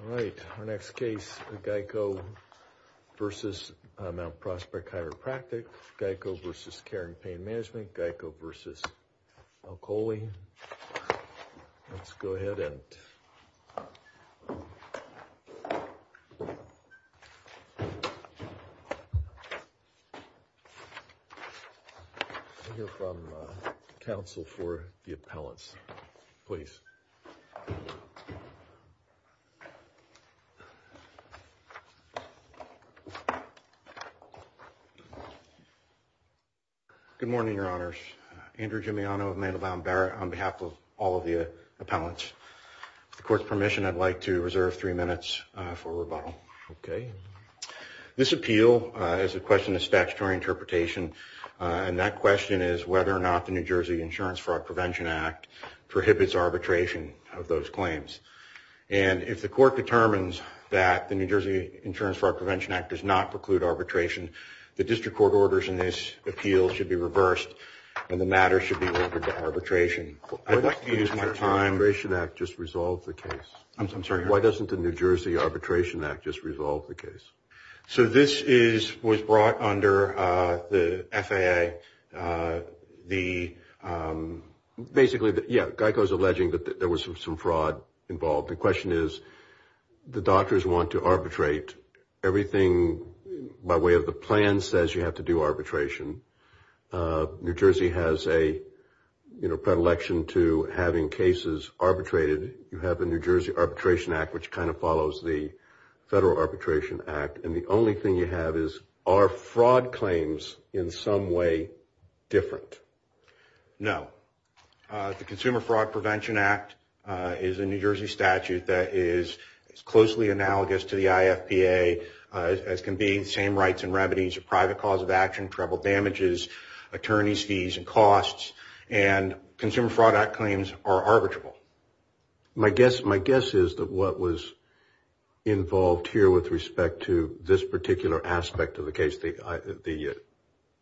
All right, our next case, GEIC Oetal v. Mount Prospect Chiropractic, GEIC Oetal v. Care and Pain Management, GEIC Oetal v. Alcoaley. Let's go ahead and... We'll hear from counsel for the appellants. Please. Good morning, Your Honors. Andrew Gimignano of Mandelbaum Barrett on behalf of all of the appellants. With the court's permission, I'd like to reserve three minutes for rebuttal. Okay. This appeal is a question of statutory interpretation. And that question is whether or not the New Jersey Insurance Fraud Prevention Act prohibits arbitration of those claims. And if the court determines that the New Jersey Insurance Fraud Prevention Act does not preclude arbitration, the district court orders in this appeal should be reversed and the matter should be ordered to arbitration. I'd like to use my time... Why doesn't the New Jersey Arbitration Act just resolve the case? I'm sorry? So this was brought under the FAA, the... Basically, yeah, GEICO is alleging that there was some fraud involved. The question is the doctors want to arbitrate everything by way of the plan says you have to do arbitration. New Jersey has a, you know, predilection to having cases arbitrated. You have the New Jersey Arbitration Act, which kind of follows the Federal Arbitration Act. And the only thing you have is, are fraud claims in some way different? No. The Consumer Fraud Prevention Act is a New Jersey statute that is closely analogous to the IFPA, as can be same rights and remedies, private cause of action, attorney's fees and costs, and Consumer Fraud Act claims are arbitrable. My guess is that what was involved here with respect to this particular aspect of the case, the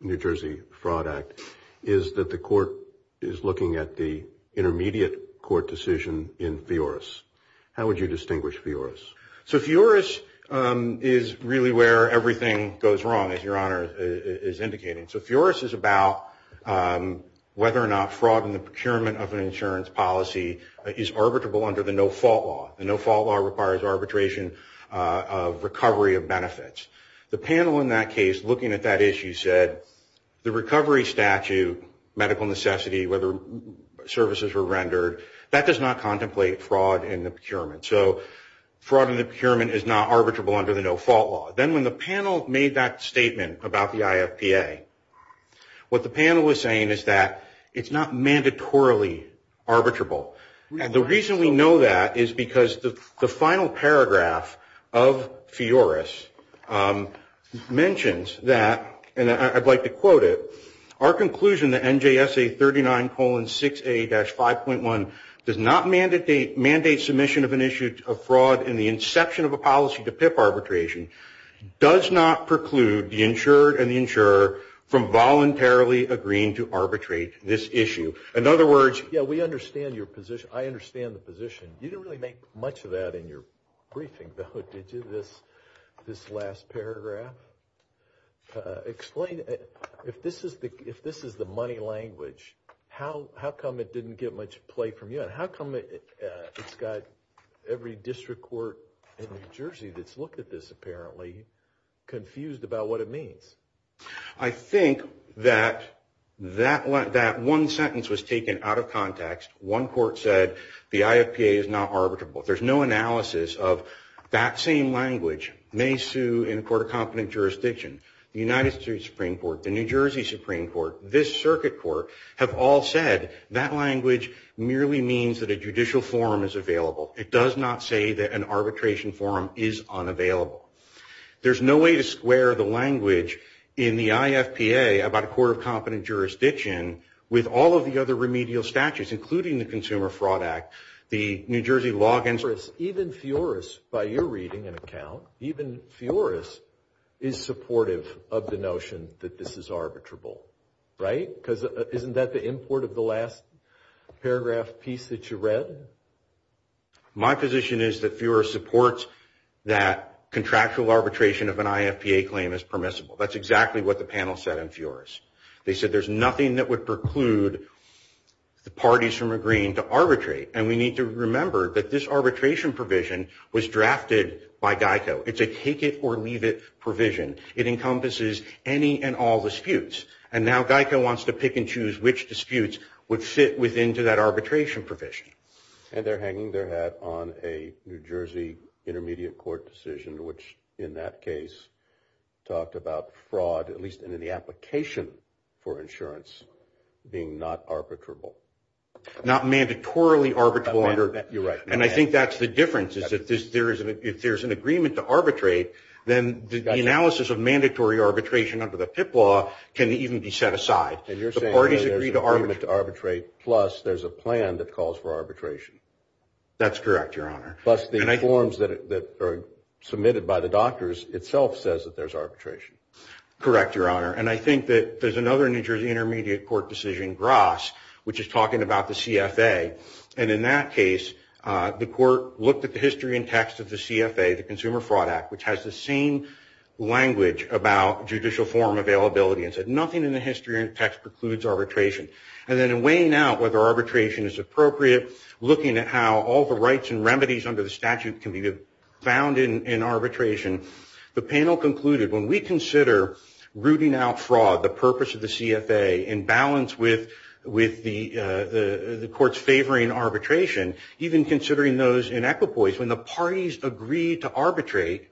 New Jersey Fraud Act, is that the court is looking at the intermediate court decision in FIORAS. How would you distinguish FIORAS? So FIORAS is really where everything goes wrong, as Your Honor is indicating. So FIORAS is about whether or not fraud in the procurement of an insurance policy is arbitrable under the no-fault law. The no-fault law requires arbitration of recovery of benefits. The panel in that case, looking at that issue, said the recovery statute, medical necessity, whether services were rendered, that does not contemplate fraud in the procurement. So fraud in the procurement is not arbitrable under the no-fault law. Then when the panel made that statement about the IFPA, what the panel was saying is that it's not mandatorily arbitrable. The reason we know that is because the final paragraph of FIORAS mentions that, and I'd like to quote it, our conclusion that NJSA 39-6A-5.1 does not mandate submission of an issue of fraud in the inception of a policy to PIP arbitration, does not preclude the insured and the insurer from voluntarily agreeing to arbitrate this issue. In other words, yeah, we understand your position. I understand the position. You didn't really make much of that in your briefing, though, did you, this last paragraph? Explain, if this is the money language, how come it didn't get much play from you, and how come it's got every district court in New Jersey that's looked at this, apparently, confused about what it means? I think that that one sentence was taken out of context. One court said the IFPA is not arbitrable. There's no analysis of that same language. May sue in a court of competent jurisdiction. The United States Supreme Court, the New Jersey Supreme Court, this circuit court have all said that language merely means that a judicial forum is available. It does not say that an arbitration forum is unavailable. There's no way to square the language in the IFPA about a court of competent jurisdiction with all of the other remedial statutes, including the Consumer Fraud Act, the New Jersey Logins Act. Even Fioris, by your reading and account, even Fioris is supportive of the notion that this is arbitrable, right? Because isn't that the import of the last paragraph piece that you read? My position is that Fioris supports that contractual arbitration of an IFPA claim is permissible. That's exactly what the panel said in Fioris. They said there's nothing that would preclude the parties from agreeing to arbitrate. And we need to remember that this arbitration provision was drafted by GEICO. It's a take it or leave it provision. It encompasses any and all disputes. And now GEICO wants to pick and choose which disputes would fit within to that arbitration provision. And they're hanging their head on a New Jersey intermediate court decision, which in that case talked about fraud, at least in the application for insurance, being not arbitrable. Not mandatorily arbitrable. You're right. And I think that's the difference, is that if there's an agreement to arbitrate, then the analysis of mandatory arbitration under the PIP law can even be set aside. And you're saying that there's an agreement to arbitrate, plus there's a plan that calls for arbitration. That's correct, Your Honor. Plus the forms that are submitted by the doctors itself says that there's arbitration. Correct, Your Honor. And I think that there's another New Jersey intermediate court decision, GRAS, which is talking about the CFA. And in that case, the court looked at the history and text of the CFA, the Consumer Fraud Act, which has the same language about judicial form availability. It said nothing in the history and text precludes arbitration. And then in weighing out whether arbitration is appropriate, looking at how all the rights and remedies under the statute can be found in arbitration, the panel concluded when we consider rooting out fraud, the purpose of the CFA, in balance with the court's favoring arbitration, even considering those in equipoise, when the parties agree to arbitrate,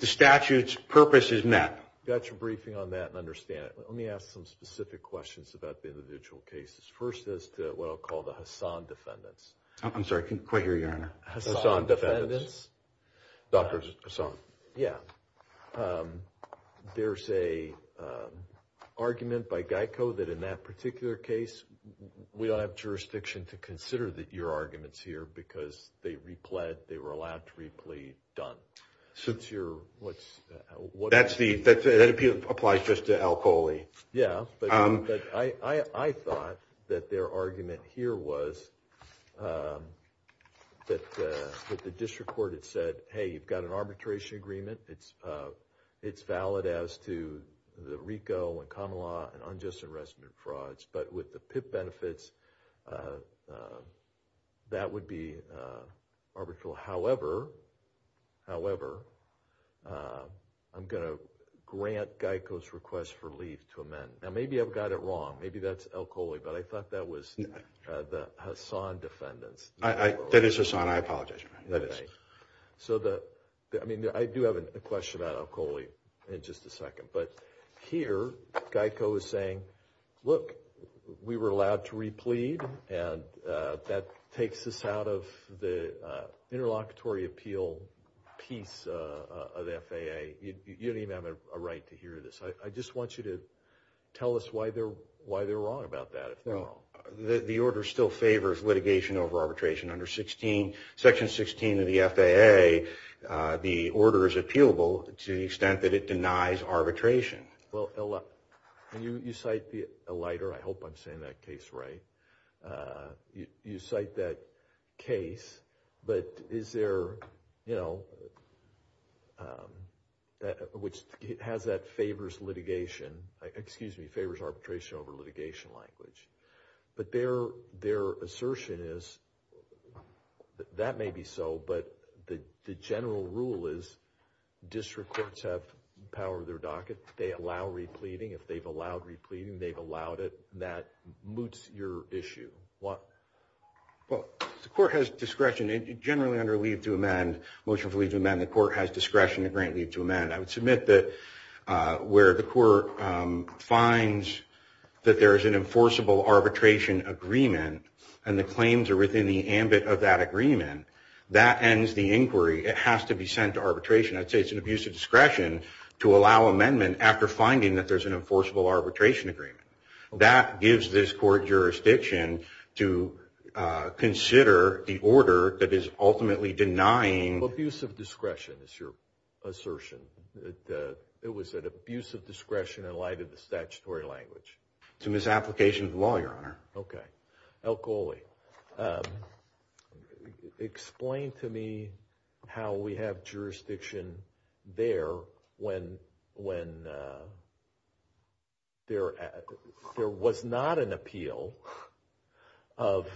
the statute's purpose is met. I got your briefing on that and understand it. Let me ask some specific questions about the individual cases. First, as to what I'll call the Hassan defendants. I'm sorry, I couldn't quite hear you, Your Honor. Hassan defendants? Dr. Hassan. Yeah. There's an argument by GEICO that in that particular case, we don't have jurisdiction to consider your arguments here because they repled, they were allowed to replete, done. Since you're, what's... That's the, that applies just to Al Coley. Yeah, but I thought that their argument here was that the district court had said, hey, you've got an arbitration agreement. It's valid as to the RICO and common law and unjust arrestment frauds. But with the PIP benefits, that would be arbitral. However, however, I'm going to grant GEICO's request for leave to amend. Now, maybe I've got it wrong. Maybe that's Al Coley, but I thought that was the Hassan defendants. That is Hassan. I apologize, Your Honor. That is. So the, I mean, I do have a question about Al Coley in just a second. But here, GEICO is saying, look, we were allowed to replete, and that takes us out of the interlocutory appeal piece of the FAA. You don't even have a right to hear this. I just want you to tell us why they're wrong about that, if they're wrong. The order still favors litigation over arbitration under section 16 of the FAA. The order is appealable to the extent that it denies arbitration. Well, you cite the alighter. I hope I'm saying that case right. You cite that case, but is there, you know, which has that favors litigation, excuse me, favors arbitration over litigation language. But their assertion is, that may be so, but the general rule is district courts have power of their docket. They allow repleting. If they've allowed repleting, they've allowed it. That moots your issue. Well, the court has discretion. Generally under leave to amend, motion for leave to amend, the court has discretion to grant leave to amend. I would submit that where the court finds that there is an enforceable arbitration agreement and the claims are within the ambit of that agreement, that ends the inquiry. It has to be sent to arbitration. I'd say it's an abuse of discretion to allow amendment after finding that there's an enforceable arbitration agreement. That gives this court jurisdiction to consider the order that is ultimately denying. Abuse of discretion is your assertion. It was an abuse of discretion in light of the statutory language. It's a misapplication of the law, Your Honor. Okay. Al Coley, explain to me how we have jurisdiction there when there was not an appeal of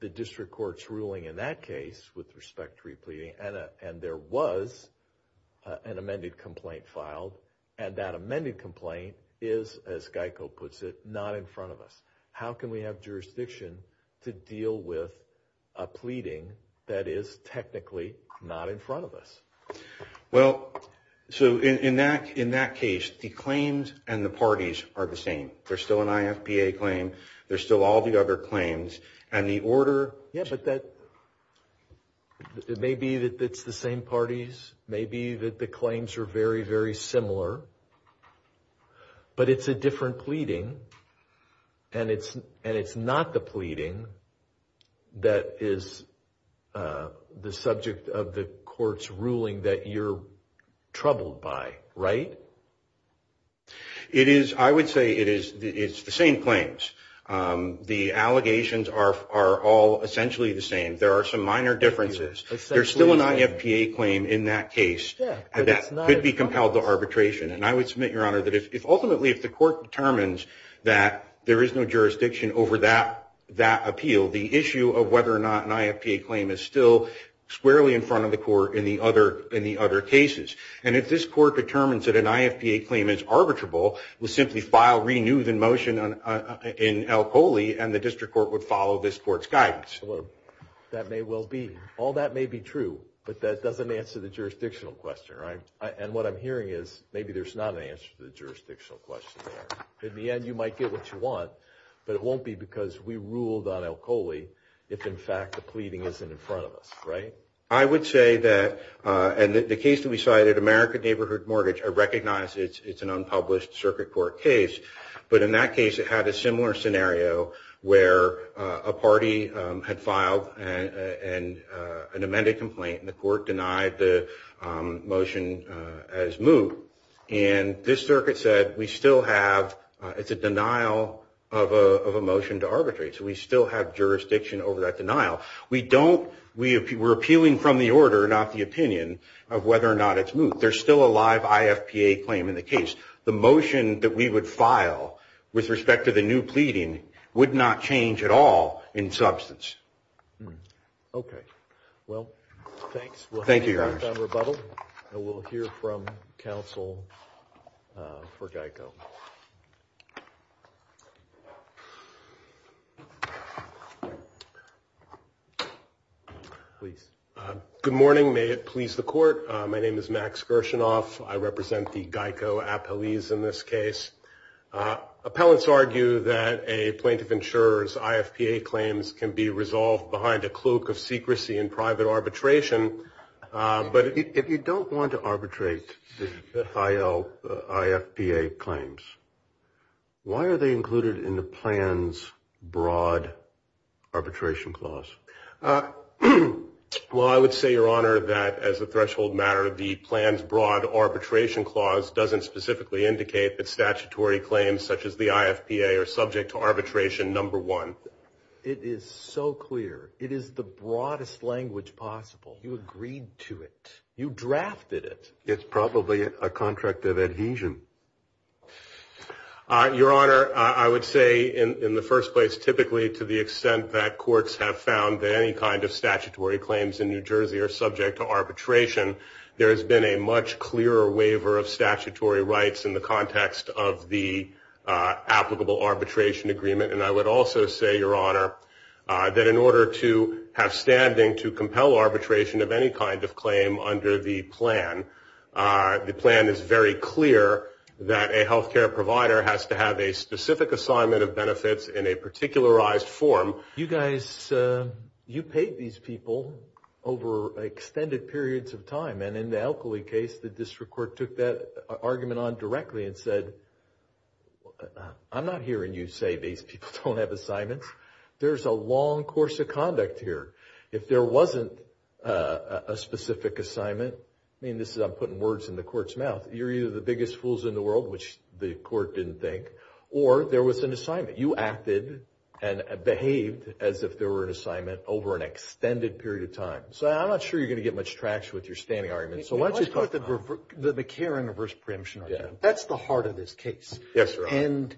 the district court's ruling in that case with respect to repleting and there was an amended complaint filed. And that amended complaint is, as Geico puts it, not in front of us. How can we have jurisdiction to deal with a pleading that is technically not in front of us? Well, so in that case, the claims and the parties are the same. There's still an IFPA claim. There's still all the other claims, and the order Yeah, but that, it may be that it's the same parties. It may be that the claims are very, very similar. But it's a different pleading, and it's not the pleading that is the subject of the court's ruling that you're troubled by. Right? It is, I would say it's the same claims. The allegations are all essentially the same. There are some minor differences. There's still an IFPA claim in that case. And that could be compelled to arbitration. And I would submit, Your Honor, that if ultimately if the court determines that there is no jurisdiction over that appeal, the issue of whether or not an IFPA claim is still squarely in front of the court in the other cases. And if this court determines that an IFPA claim is arbitrable, we'll simply file, renew the motion in Alcoley, and the district court would follow this court's guidance. That may well be. All that may be true, but that doesn't answer the jurisdictional question, right? And what I'm hearing is maybe there's not an answer to the jurisdictional question there. In the end, you might get what you want, but it won't be because we ruled on Alcoley if, in fact, the pleading isn't in front of us. Right? I would say that, and the case that we cited, American Neighborhood Mortgage, I recognize it's an unpublished circuit court case. But in that case, it had a similar scenario where a party had filed an amended complaint, and the court denied the motion as moot. And this circuit said we still have, it's a denial of a motion to arbitrate. So we still have jurisdiction over that denial. We don't, we're appealing from the order, not the opinion, of whether or not it's moot. There's still a live IFPA claim in the case. The motion that we would file with respect to the new pleading would not change at all in substance. Okay. Well, thanks. Thank you, Your Honor. We'll hear from Rebuttal, and we'll hear from counsel for GEICO. Please. Good morning. May it please the court. My name is Max Gershenoff. I represent the GEICO appellees in this case. Appellants argue that a plaintiff insurer's IFPA claims can be resolved behind a cloak of secrecy in private arbitration. But if you don't want to arbitrate the IFPA claims, why are they included in the plan's broad arbitration clause? Well, I would say, Your Honor, that as a threshold matter, the plan's broad arbitration clause doesn't specifically indicate that statutory claims such as the IFPA are subject to arbitration number one. It is so clear. It is the broadest language possible. You agreed to it. You drafted it. It's probably a contract of adhesion. Your Honor, I would say in the first place, typically, to the extent that courts have found that any kind of statutory claims in New Jersey are subject to arbitration, there has been a much clearer waiver of statutory rights in the context of the applicable arbitration agreement. And I would also say, Your Honor, that in order to have standing to compel arbitration of any kind of claim under the plan, the plan is very clear that a health care provider has to have a specific assignment of benefits in a particularized form. You guys, you paid these people over extended periods of time. And in the Alkali case, the district court took that argument on directly and said, I'm not hearing you say these people don't have assignments. There's a long course of conduct here. If there wasn't a specific assignment, I mean, this is I'm putting words in the court's mouth, you're either the biggest fools in the world, which the court didn't think, or there was an assignment. You acted and behaved as if there were an assignment over an extended period of time. So I'm not sure you're going to get much traction with your standing argument. So why don't you talk about that? Let's talk about the McCarran reverse preemption argument. That's the heart of this case. Yes, Your Honor. And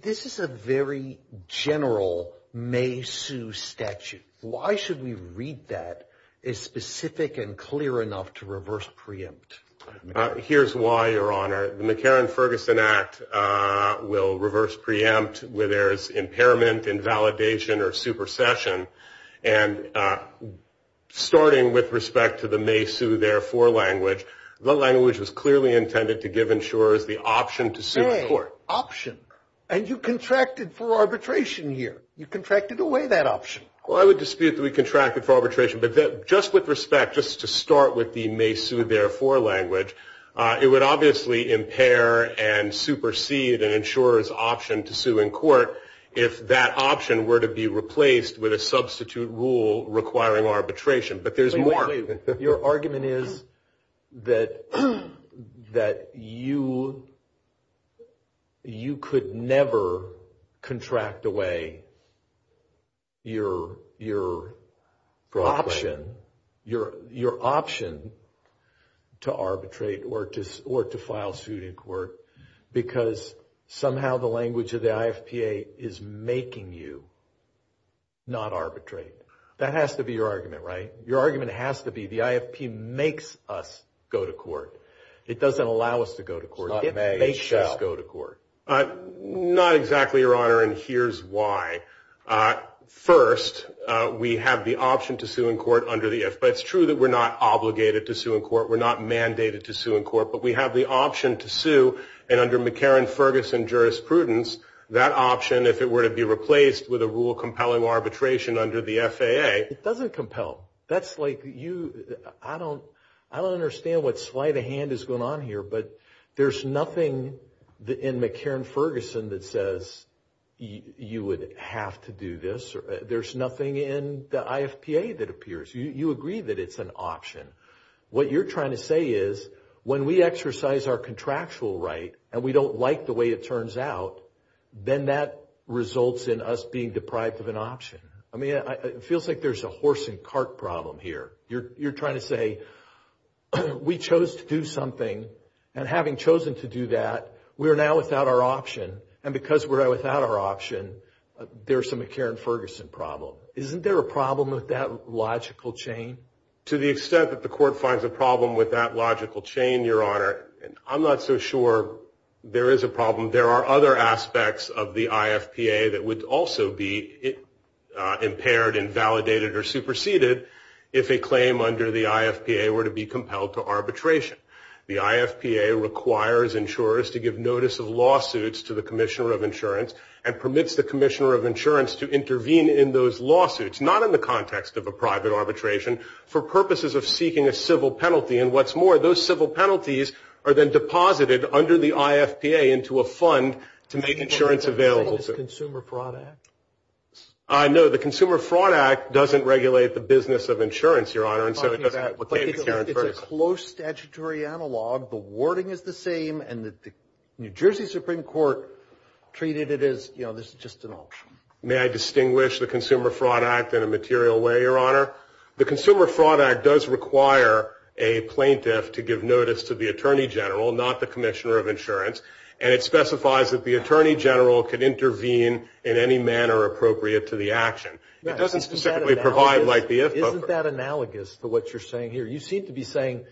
this is a very general may sue statute. Why should we read that as specific and clear enough to reverse preempt? Here's why, Your Honor. The McCarran Ferguson Act will reverse preempt where there is impairment, invalidation or supersession. And starting with respect to the may sue therefore language, the language was clearly intended to give insurers the option to sue the court. Option. And you contracted for arbitration here. You contracted away that option. Well, I would dispute that we contracted for arbitration, but just with respect, just to start with the may sue therefore language, it would obviously impair and supersede an insurer's option to sue in court if that option were to be replaced with a substitute rule requiring arbitration. But there's more. Your argument is that you could never contract away your option to arbitrate or to file suit in court because somehow the language of the IFPA is making you not arbitrate. That has to be your argument, right? Your argument has to be the IFP makes us go to court. It doesn't allow us to go to court. It makes us go to court. Not exactly, Your Honor, and here's why. First, we have the option to sue in court under the IFPA. It's true that we're not obligated to sue in court. We're not mandated to sue in court, but we have the option to sue. And under McCarran Ferguson jurisprudence, if it were to be replaced with a rule compelling arbitration under the FAA. It doesn't compel. That's like you, I don't understand what sleight of hand is going on here, but there's nothing in McCarran Ferguson that says you would have to do this. There's nothing in the IFPA that appears. You agree that it's an option. What you're trying to say is when we exercise our contractual right and we don't like the way it turns out, then that results in us being deprived of an option. I mean, it feels like there's a horse and cart problem here. You're trying to say we chose to do something, and having chosen to do that, we are now without our option, and because we're without our option, there's a McCarran Ferguson problem. Isn't there a problem with that logical chain? To the extent that the court finds a problem with that logical chain, Your Honor, I'm not so sure there is a problem. There are other aspects of the IFPA that would also be impaired and validated or superseded if a claim under the IFPA were to be compelled to arbitration. The IFPA requires insurers to give notice of lawsuits to the Commissioner of Insurance and permits the Commissioner of Insurance to intervene in those lawsuits, not in the context of a private arbitration, for purposes of seeking a civil penalty. And what's more, those civil penalties are then deposited under the IFPA into a fund to make insurance available. Is it the Consumer Fraud Act? No, the Consumer Fraud Act doesn't regulate the business of insurance, Your Honor. It's a close statutory analog. The wording is the same, and the New Jersey Supreme Court treated it as, you know, this is just an option. May I distinguish the Consumer Fraud Act in a material way, Your Honor? The Consumer Fraud Act does require a plaintiff to give notice to the Attorney General, not the Commissioner of Insurance, and it specifies that the Attorney General can intervene in any manner appropriate to the action. It doesn't specifically provide like the IFPA. Isn't that analogous to what you're saying here? You seem to be saying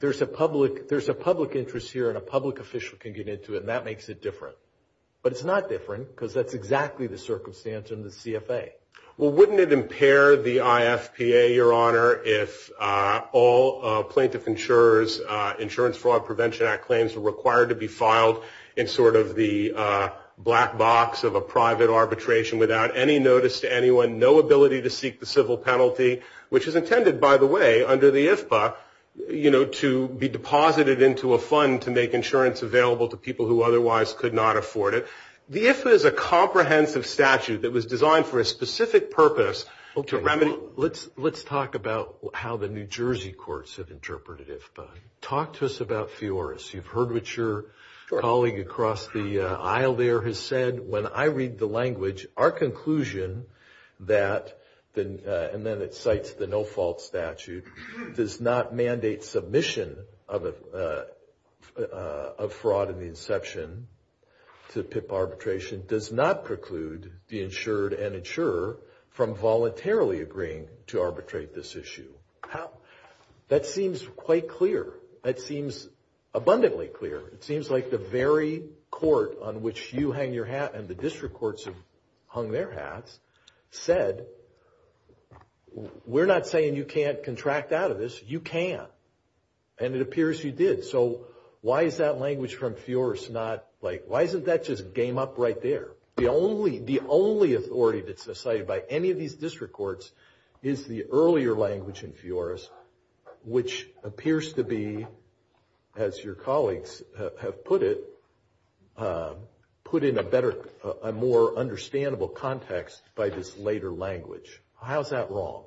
there's a public interest here and a public official can get into it, and that makes it different. But it's not different because that's exactly the circumstance in the CFA. Well, wouldn't it impair the IFPA, Your Honor, if all plaintiff insurers' Insurance Fraud Prevention Act claims were required to be filed in sort of the black box of a private arbitration without any notice to anyone, no ability to seek the civil penalty, which is intended, by the way, under the IFPA, you know, to be deposited into a fund to make insurance available to people who otherwise could not afford it. The IFPA is a comprehensive statute that was designed for a specific purpose. Let's talk about how the New Jersey courts have interpreted IFPA. Talk to us about FEORUS. You've heard what your colleague across the aisle there has said. When I read the language, our conclusion that, and then it cites the no-fault statute, does not mandate submission of fraud in the inception to PIP arbitration, does not preclude the insured and insurer from voluntarily agreeing to arbitrate this issue. That seems quite clear. That seems abundantly clear. It seems like the very court on which you hang your hat and the district courts have hung their hats said, we're not saying you can't contract out of this. You can. And it appears you did. So why is that language from FEORUS not, like, why isn't that just game up right there? The only authority that's decided by any of these district courts is the earlier language in FEORUS, which appears to be, as your colleagues have put it, put in a better, a more understandable context by this later language. How is that wrong?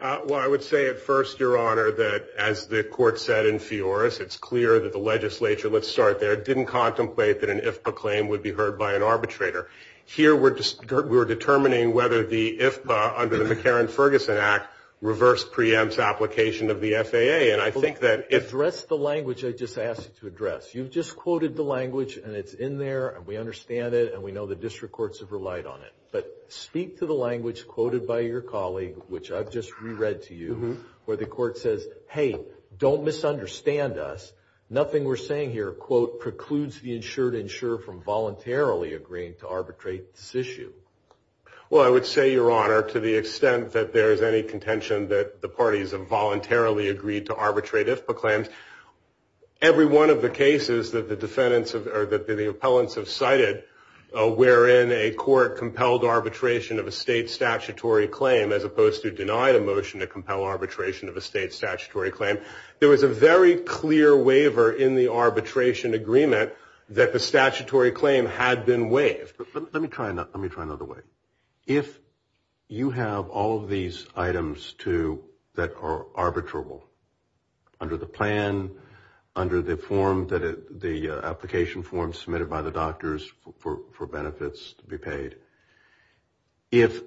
Well, I would say at first, Your Honor, that as the court said in FEORUS, it's clear that the legislature, let's start there, didn't contemplate that an IFPA claim would be heard by an arbitrator. Here we're determining whether the IFPA, under the McCarran-Ferguson Act, reverse preempts application of the FAA. And I think that if- Address the language I just asked you to address. You've just quoted the language, and it's in there, and we understand it, and we know the district courts have relied on it. But speak to the language quoted by your colleague, which I've just reread to you, where the court says, hey, don't misunderstand us. Nothing we're saying here, quote, precludes the insured insurer from voluntarily agreeing to arbitrate this issue. Well, I would say, Your Honor, to the extent that there is any contention that the parties have voluntarily agreed to arbitrate IFPA claims, every one of the cases that the defendants or the appellants have cited, wherein a court compelled arbitration of a state statutory claim, as opposed to denied a motion to compel arbitration of a state statutory claim, there was a very clear waiver in the arbitration agreement that the statutory claim had been waived. Let me try another way. If you have all of these items that are arbitrable, under the plan, under the application form submitted by the doctors for benefits to be paid, if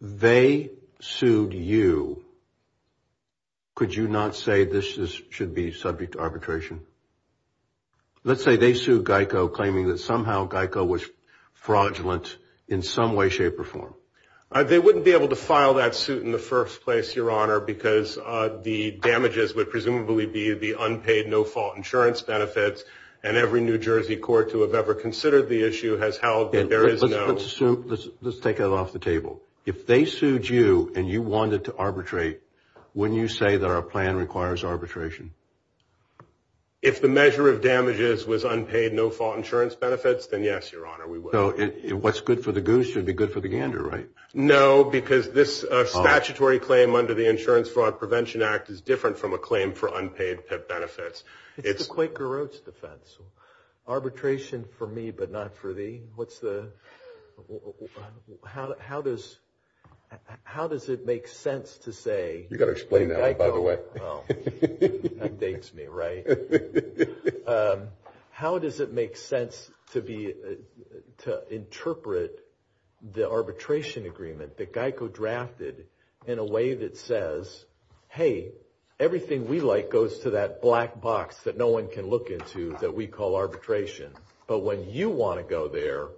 they sued you, could you not say this should be subject to arbitration? Let's say they sued GEICO claiming that somehow GEICO was fraudulent in some way, shape, or form. They wouldn't be able to file that suit in the first place, Your Honor, because the damages would presumably be the unpaid no-fault insurance benefits, and every New Jersey court to have ever considered the issue has held that there is no. Let's take it off the table. If they sued you and you wanted to arbitrate, wouldn't you say that our plan requires arbitration? If the measure of damages was unpaid no-fault insurance benefits, then yes, Your Honor, we would. So what's good for the goose should be good for the gander, right? No, because this statutory claim under the Insurance Fraud Prevention Act is different from a claim for unpaid PIP benefits. It's the Quaker Oats defense. Arbitration for me, but not for thee. What's the... How does it make sense to say... You've got to explain that one, by the way. That dates me, right? How does it make sense to interpret the arbitration agreement that GEICO drafted in a way that says, hey, everything we like goes to that black box that no one can look into that we call arbitration, but when you want to go there,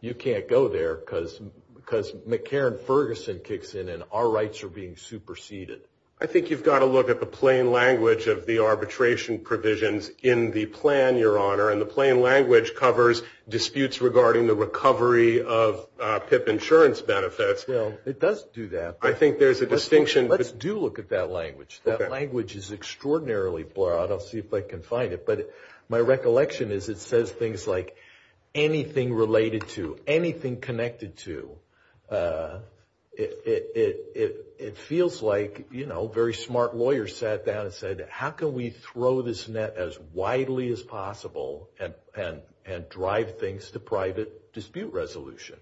you can't go there because McCarran-Ferguson kicks in and our rights are being superseded. I think you've got to look at the plain language of the arbitration provisions in the plan, Your Honor, and the plain language covers disputes regarding the recovery of PIP insurance benefits. Well, it does do that. I think there's a distinction. Let's do look at that language. That language is extraordinarily broad. I'll see if I can find it, but my recollection is it says things like anything related to, anything connected to. It feels like very smart lawyers sat down and said, how can we throw this net as widely as possible and drive things to private dispute resolution?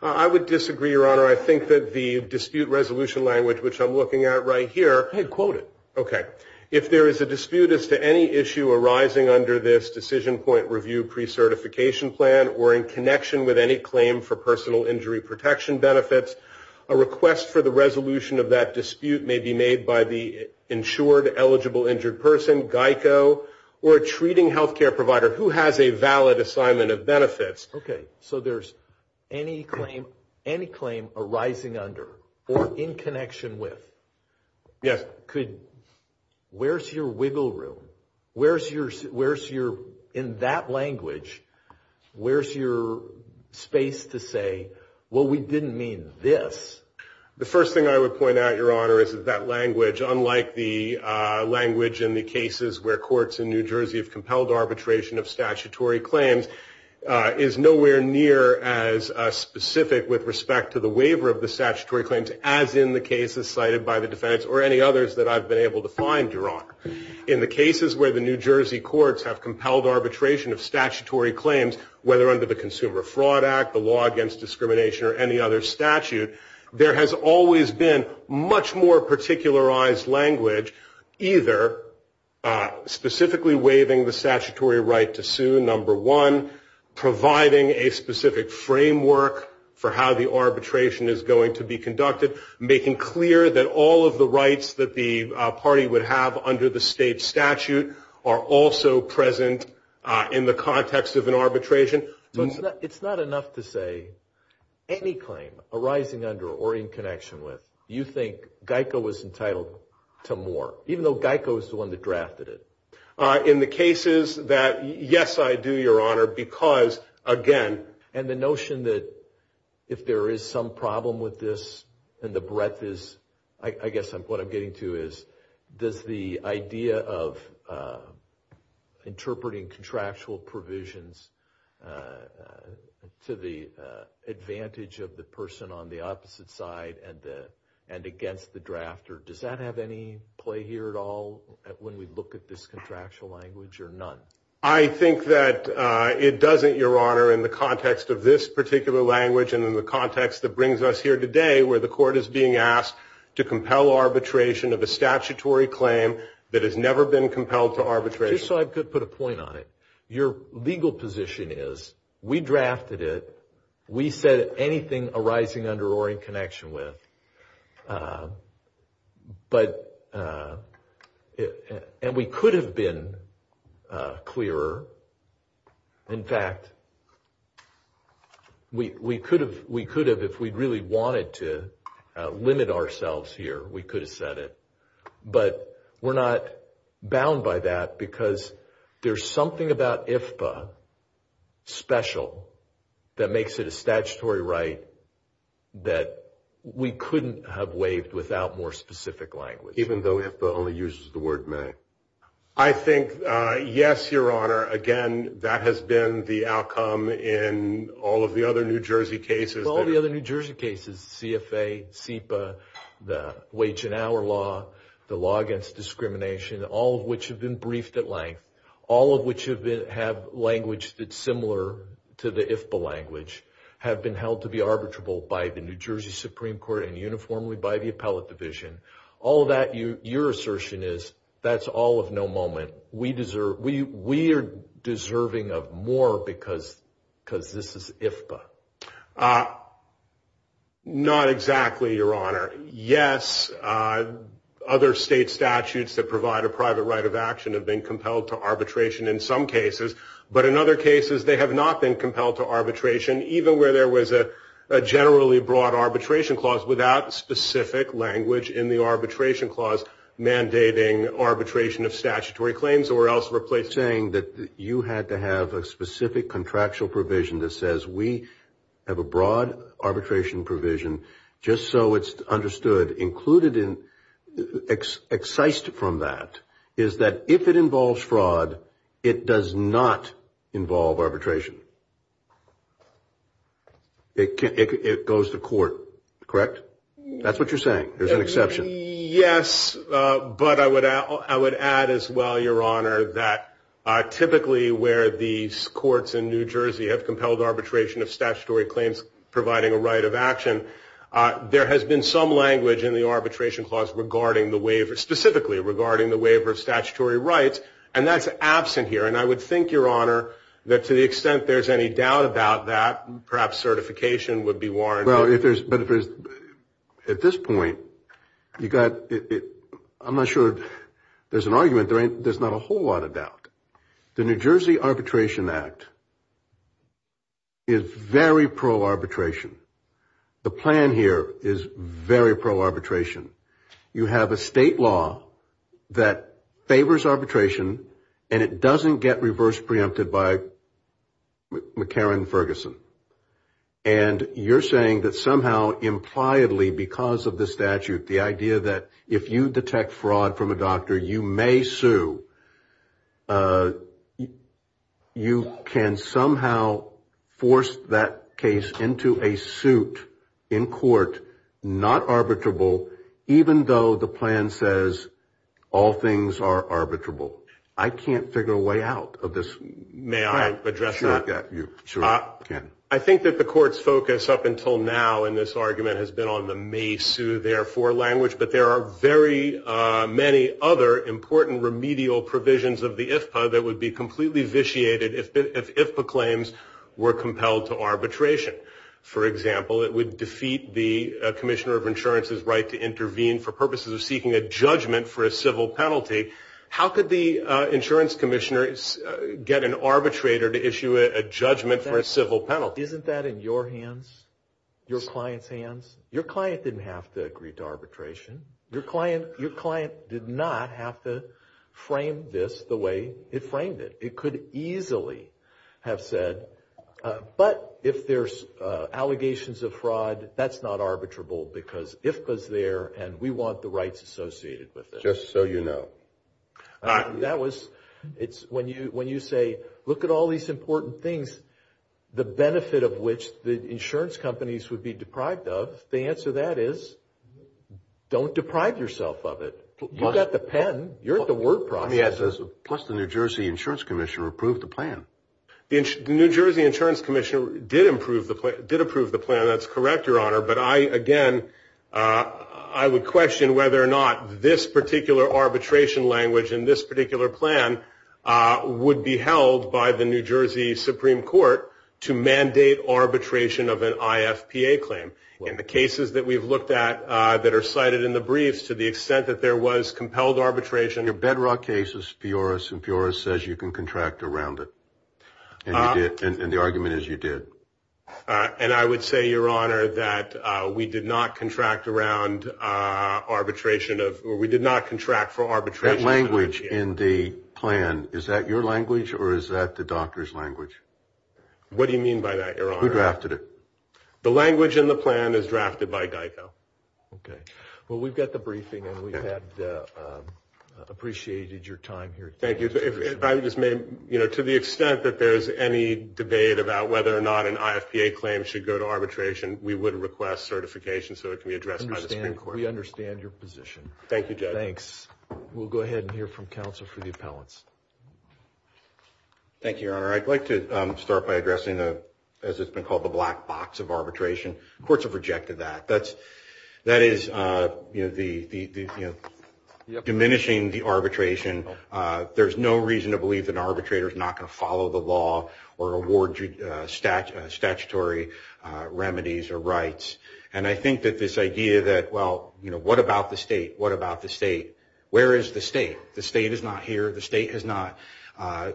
I would disagree, Your Honor. I think that the dispute resolution language, which I'm looking at right here... Hey, quote it. Okay. If there is a dispute as to any issue arising under this decision point review pre-certification plan or in connection with any claim for personal injury protection benefits, a request for the resolution of that dispute may be made by the insured eligible injured person, Geico, or a treating health care provider who has a valid assignment of benefits. Okay. So there's any claim arising under or in connection with. Yes. Where's your wiggle room? Where's your, in that language, where's your space to say, well, we didn't mean this? The first thing I would point out, Your Honor, is that that language, unlike the language in the cases where courts in New Jersey have compelled arbitration of statutory claims, is nowhere near as specific with respect to the waiver of the statutory claims as in the cases cited by the defense or any others that I've been able to find, Your Honor. In the cases where the New Jersey courts have compelled arbitration of statutory claims, whether under the Consumer Fraud Act, the Law Against Discrimination, or any other statute, there has always been much more particularized language, either specifically waiving the statutory right to sue, number one, providing a specific framework for how the arbitration is going to be conducted, making clear that all of the rights that the party would have under the state statute are also present in the context of an arbitration. It's not enough to say any claim arising under or in connection with you think Geico was entitled to more, even though Geico was the one that drafted it. In the cases that, yes, I do, Your Honor, because, again, and the notion that if there is some problem with this and the breadth is, I guess what I'm getting to is, does the idea of interpreting contractual provisions to the advantage of the person on the opposite side and against the drafter, does that have any play here at all when we look at this contractual language or none? I think that it doesn't, Your Honor, in the context of this particular language and in the context that brings us here today where the court is being asked to compel arbitration of a statutory claim that has never been compelled to arbitration. Just so I could put a point on it, your legal position is we drafted it, we said anything arising under or in connection with, and we could have been clearer. In fact, we could have, if we really wanted to limit ourselves here, we could have said it. But we're not bound by that because there's something about IFPA special that makes it a statutory right that we couldn't have waived without more specific language. Even though IFPA only uses the word may. I think, yes, Your Honor, again, that has been the outcome in all of the other New Jersey cases. All the other New Jersey cases, CFA, SEPA, the wage and hour law, the law against discrimination, all of which have been briefed at length, all of which have language that's similar to the IFPA language, have been held to be arbitrable by the New Jersey Supreme Court and uniformly by the appellate division. All of that, your assertion is that's all of no moment. We are deserving of more because this is IFPA. Not exactly, Your Honor. Yes, other state statutes that provide a private right of action have been compelled to arbitration in some cases. But in other cases, they have not been compelled to arbitration, even where there was a generally broad arbitration clause without specific language in the arbitration clause mandating arbitration of statutory claims or else replacing that you had to have a specific contractual provision that says we have a broad arbitration provision just so it's understood included in excised from that, is that if it involves fraud, it does not involve arbitration. It goes to court, correct? That's what you're saying. There's an exception. Yes, but I would I would add as well, Your Honor, that typically where these courts in New Jersey have compelled arbitration of statutory claims providing a right of action, there has been some language in the arbitration clause regarding the waiver, specifically regarding the waiver of statutory rights. And that's absent here. And I would think, Your Honor, that to the extent there's any doubt about that, perhaps certification would be warranted. Well, if there's at this point, you got it. I'm not sure there's an argument. There's not a whole lot of doubt. The New Jersey Arbitration Act is very pro arbitration. The plan here is very pro arbitration. You have a state law that favors arbitration and it doesn't get reverse preempted by McCarran Ferguson. And you're saying that somehow impliedly because of the statute, the idea that if you detect fraud from a doctor, you may sue. You can somehow force that case into a suit in court, not arbitrable, even though the plan says all things are arbitrable. I can't figure a way out of this. May I address that? Sure, Ken. I think that the court's focus up until now in this argument has been on the may sue, therefore, language. But there are very many other important remedial provisions of the IFPA that would be completely vitiated if claims were compelled to arbitration. For example, it would defeat the commissioner of insurance's right to intervene for purposes of seeking a judgment for a civil penalty. How could the insurance commissioner get an arbitrator to issue a judgment for a civil penalty? Isn't that in your hands, your client's hands? Your client didn't have to agree to arbitration. Your client did not have to frame this the way it framed it. It could easily have said, but if there's allegations of fraud, that's not arbitrable because IFPA's there and we want the rights associated with it. Just so you know. When you say, look at all these important things, the benefit of which the insurance companies would be deprived of, the answer to that is don't deprive yourself of it. You've got the pen. You're at the word process. Plus the New Jersey insurance commissioner approved the plan. The New Jersey insurance commissioner did approve the plan. That's correct, Your Honor. But I, again, I would question whether or not this particular arbitration language in this particular plan would be held by the New Jersey Supreme Court to mandate arbitration of an IFPA claim. In the cases that we've looked at that are cited in the briefs, to the extent that there was compelled arbitration. Your bedrock case is Fioris, and Fioris says you can contract around it. And the argument is you did. And I would say, Your Honor, that we did not contract around arbitration of, or we did not contract for arbitration. That language in the plan, is that your language or is that the doctor's language? What do you mean by that, Your Honor? Who drafted it? The language in the plan is drafted by GEICO. Okay. Well, we've got the briefing and we've appreciated your time here. Thank you. To the extent that there's any debate about whether or not an IFPA claim should go to arbitration, we would request certification so it can be addressed by the Supreme Court. We understand your position. Thank you, Judge. Thanks. We'll go ahead and hear from counsel for the appellants. Thank you, Your Honor. I'd like to start by addressing, as it's been called, the black box of arbitration. Courts have rejected that. That is diminishing the arbitration. There's no reason to believe that an arbitrator is not going to follow the law or award statutory remedies or rights. And I think that this idea that, well, what about the state? What about the state? Where is the state? The state is not here. The state has not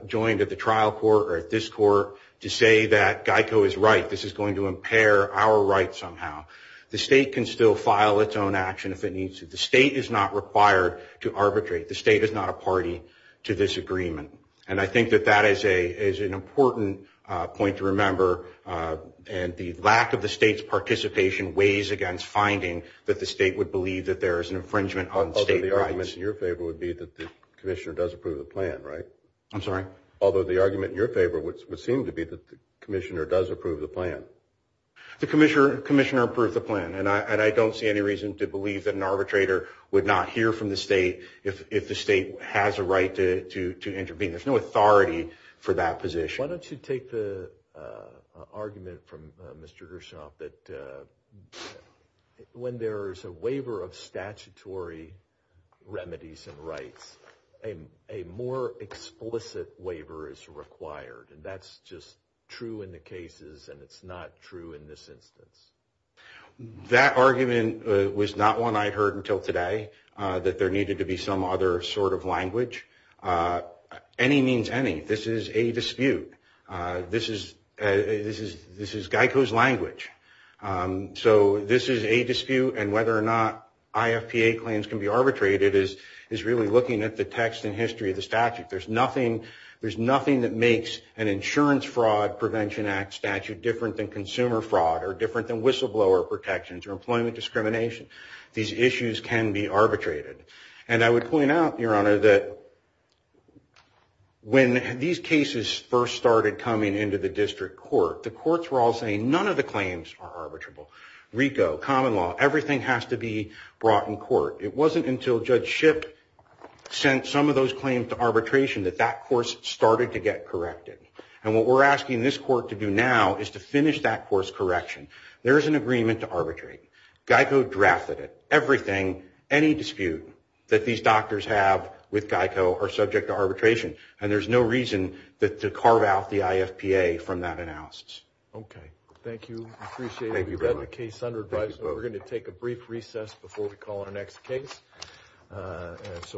joined at the trial court or at this court to say that GEICO is right. This is going to impair our rights somehow. The state can still file its own action if it needs to. The state is not required to arbitrate. The state is not a party to this agreement. And I think that that is an important point to remember. And the lack of the state's participation weighs against finding that the state would believe that there is an infringement on state rights. Although the argument in your favor would be that the commissioner does approve the plan, right? I'm sorry? Although the argument in your favor would seem to be that the commissioner does approve the plan. The commissioner approved the plan. And I don't see any reason to believe that an arbitrator would not hear from the state if the state has a right to intervene. There's no authority for that position. Why don't you take the argument from Mr. Gershoff that when there is a waiver of statutory remedies and rights, a more explicit waiver is required. And that's just true in the cases, and it's not true in this instance. That argument was not one I heard until today, that there needed to be some other sort of language. Any means any. This is a dispute. This is GEICO's language. So this is a dispute, and whether or not IFPA claims can be arbitrated is really looking at the text and history of the statute. There's nothing that makes an insurance fraud prevention act statute different than consumer fraud or different than whistleblower protections or employment discrimination. These issues can be arbitrated. And I would point out, Your Honor, that when these cases first started coming into the district court, the courts were all saying none of the claims are arbitrable. RICO, common law, everything has to be brought in court. It wasn't until Judge Shipp sent some of those claims to arbitration that that course started to get corrected. And what we're asking this court to do now is to finish that course correction. There is an agreement to arbitrate. GEICO drafted it. Everything, any dispute that these doctors have with GEICO are subject to arbitration, and there's no reason to carve out the IFPA from that analysis. Okay. Thank you. Appreciate it. Thank you, Your Honor. Thank you both. We're going to take a brief recess before we call our next case.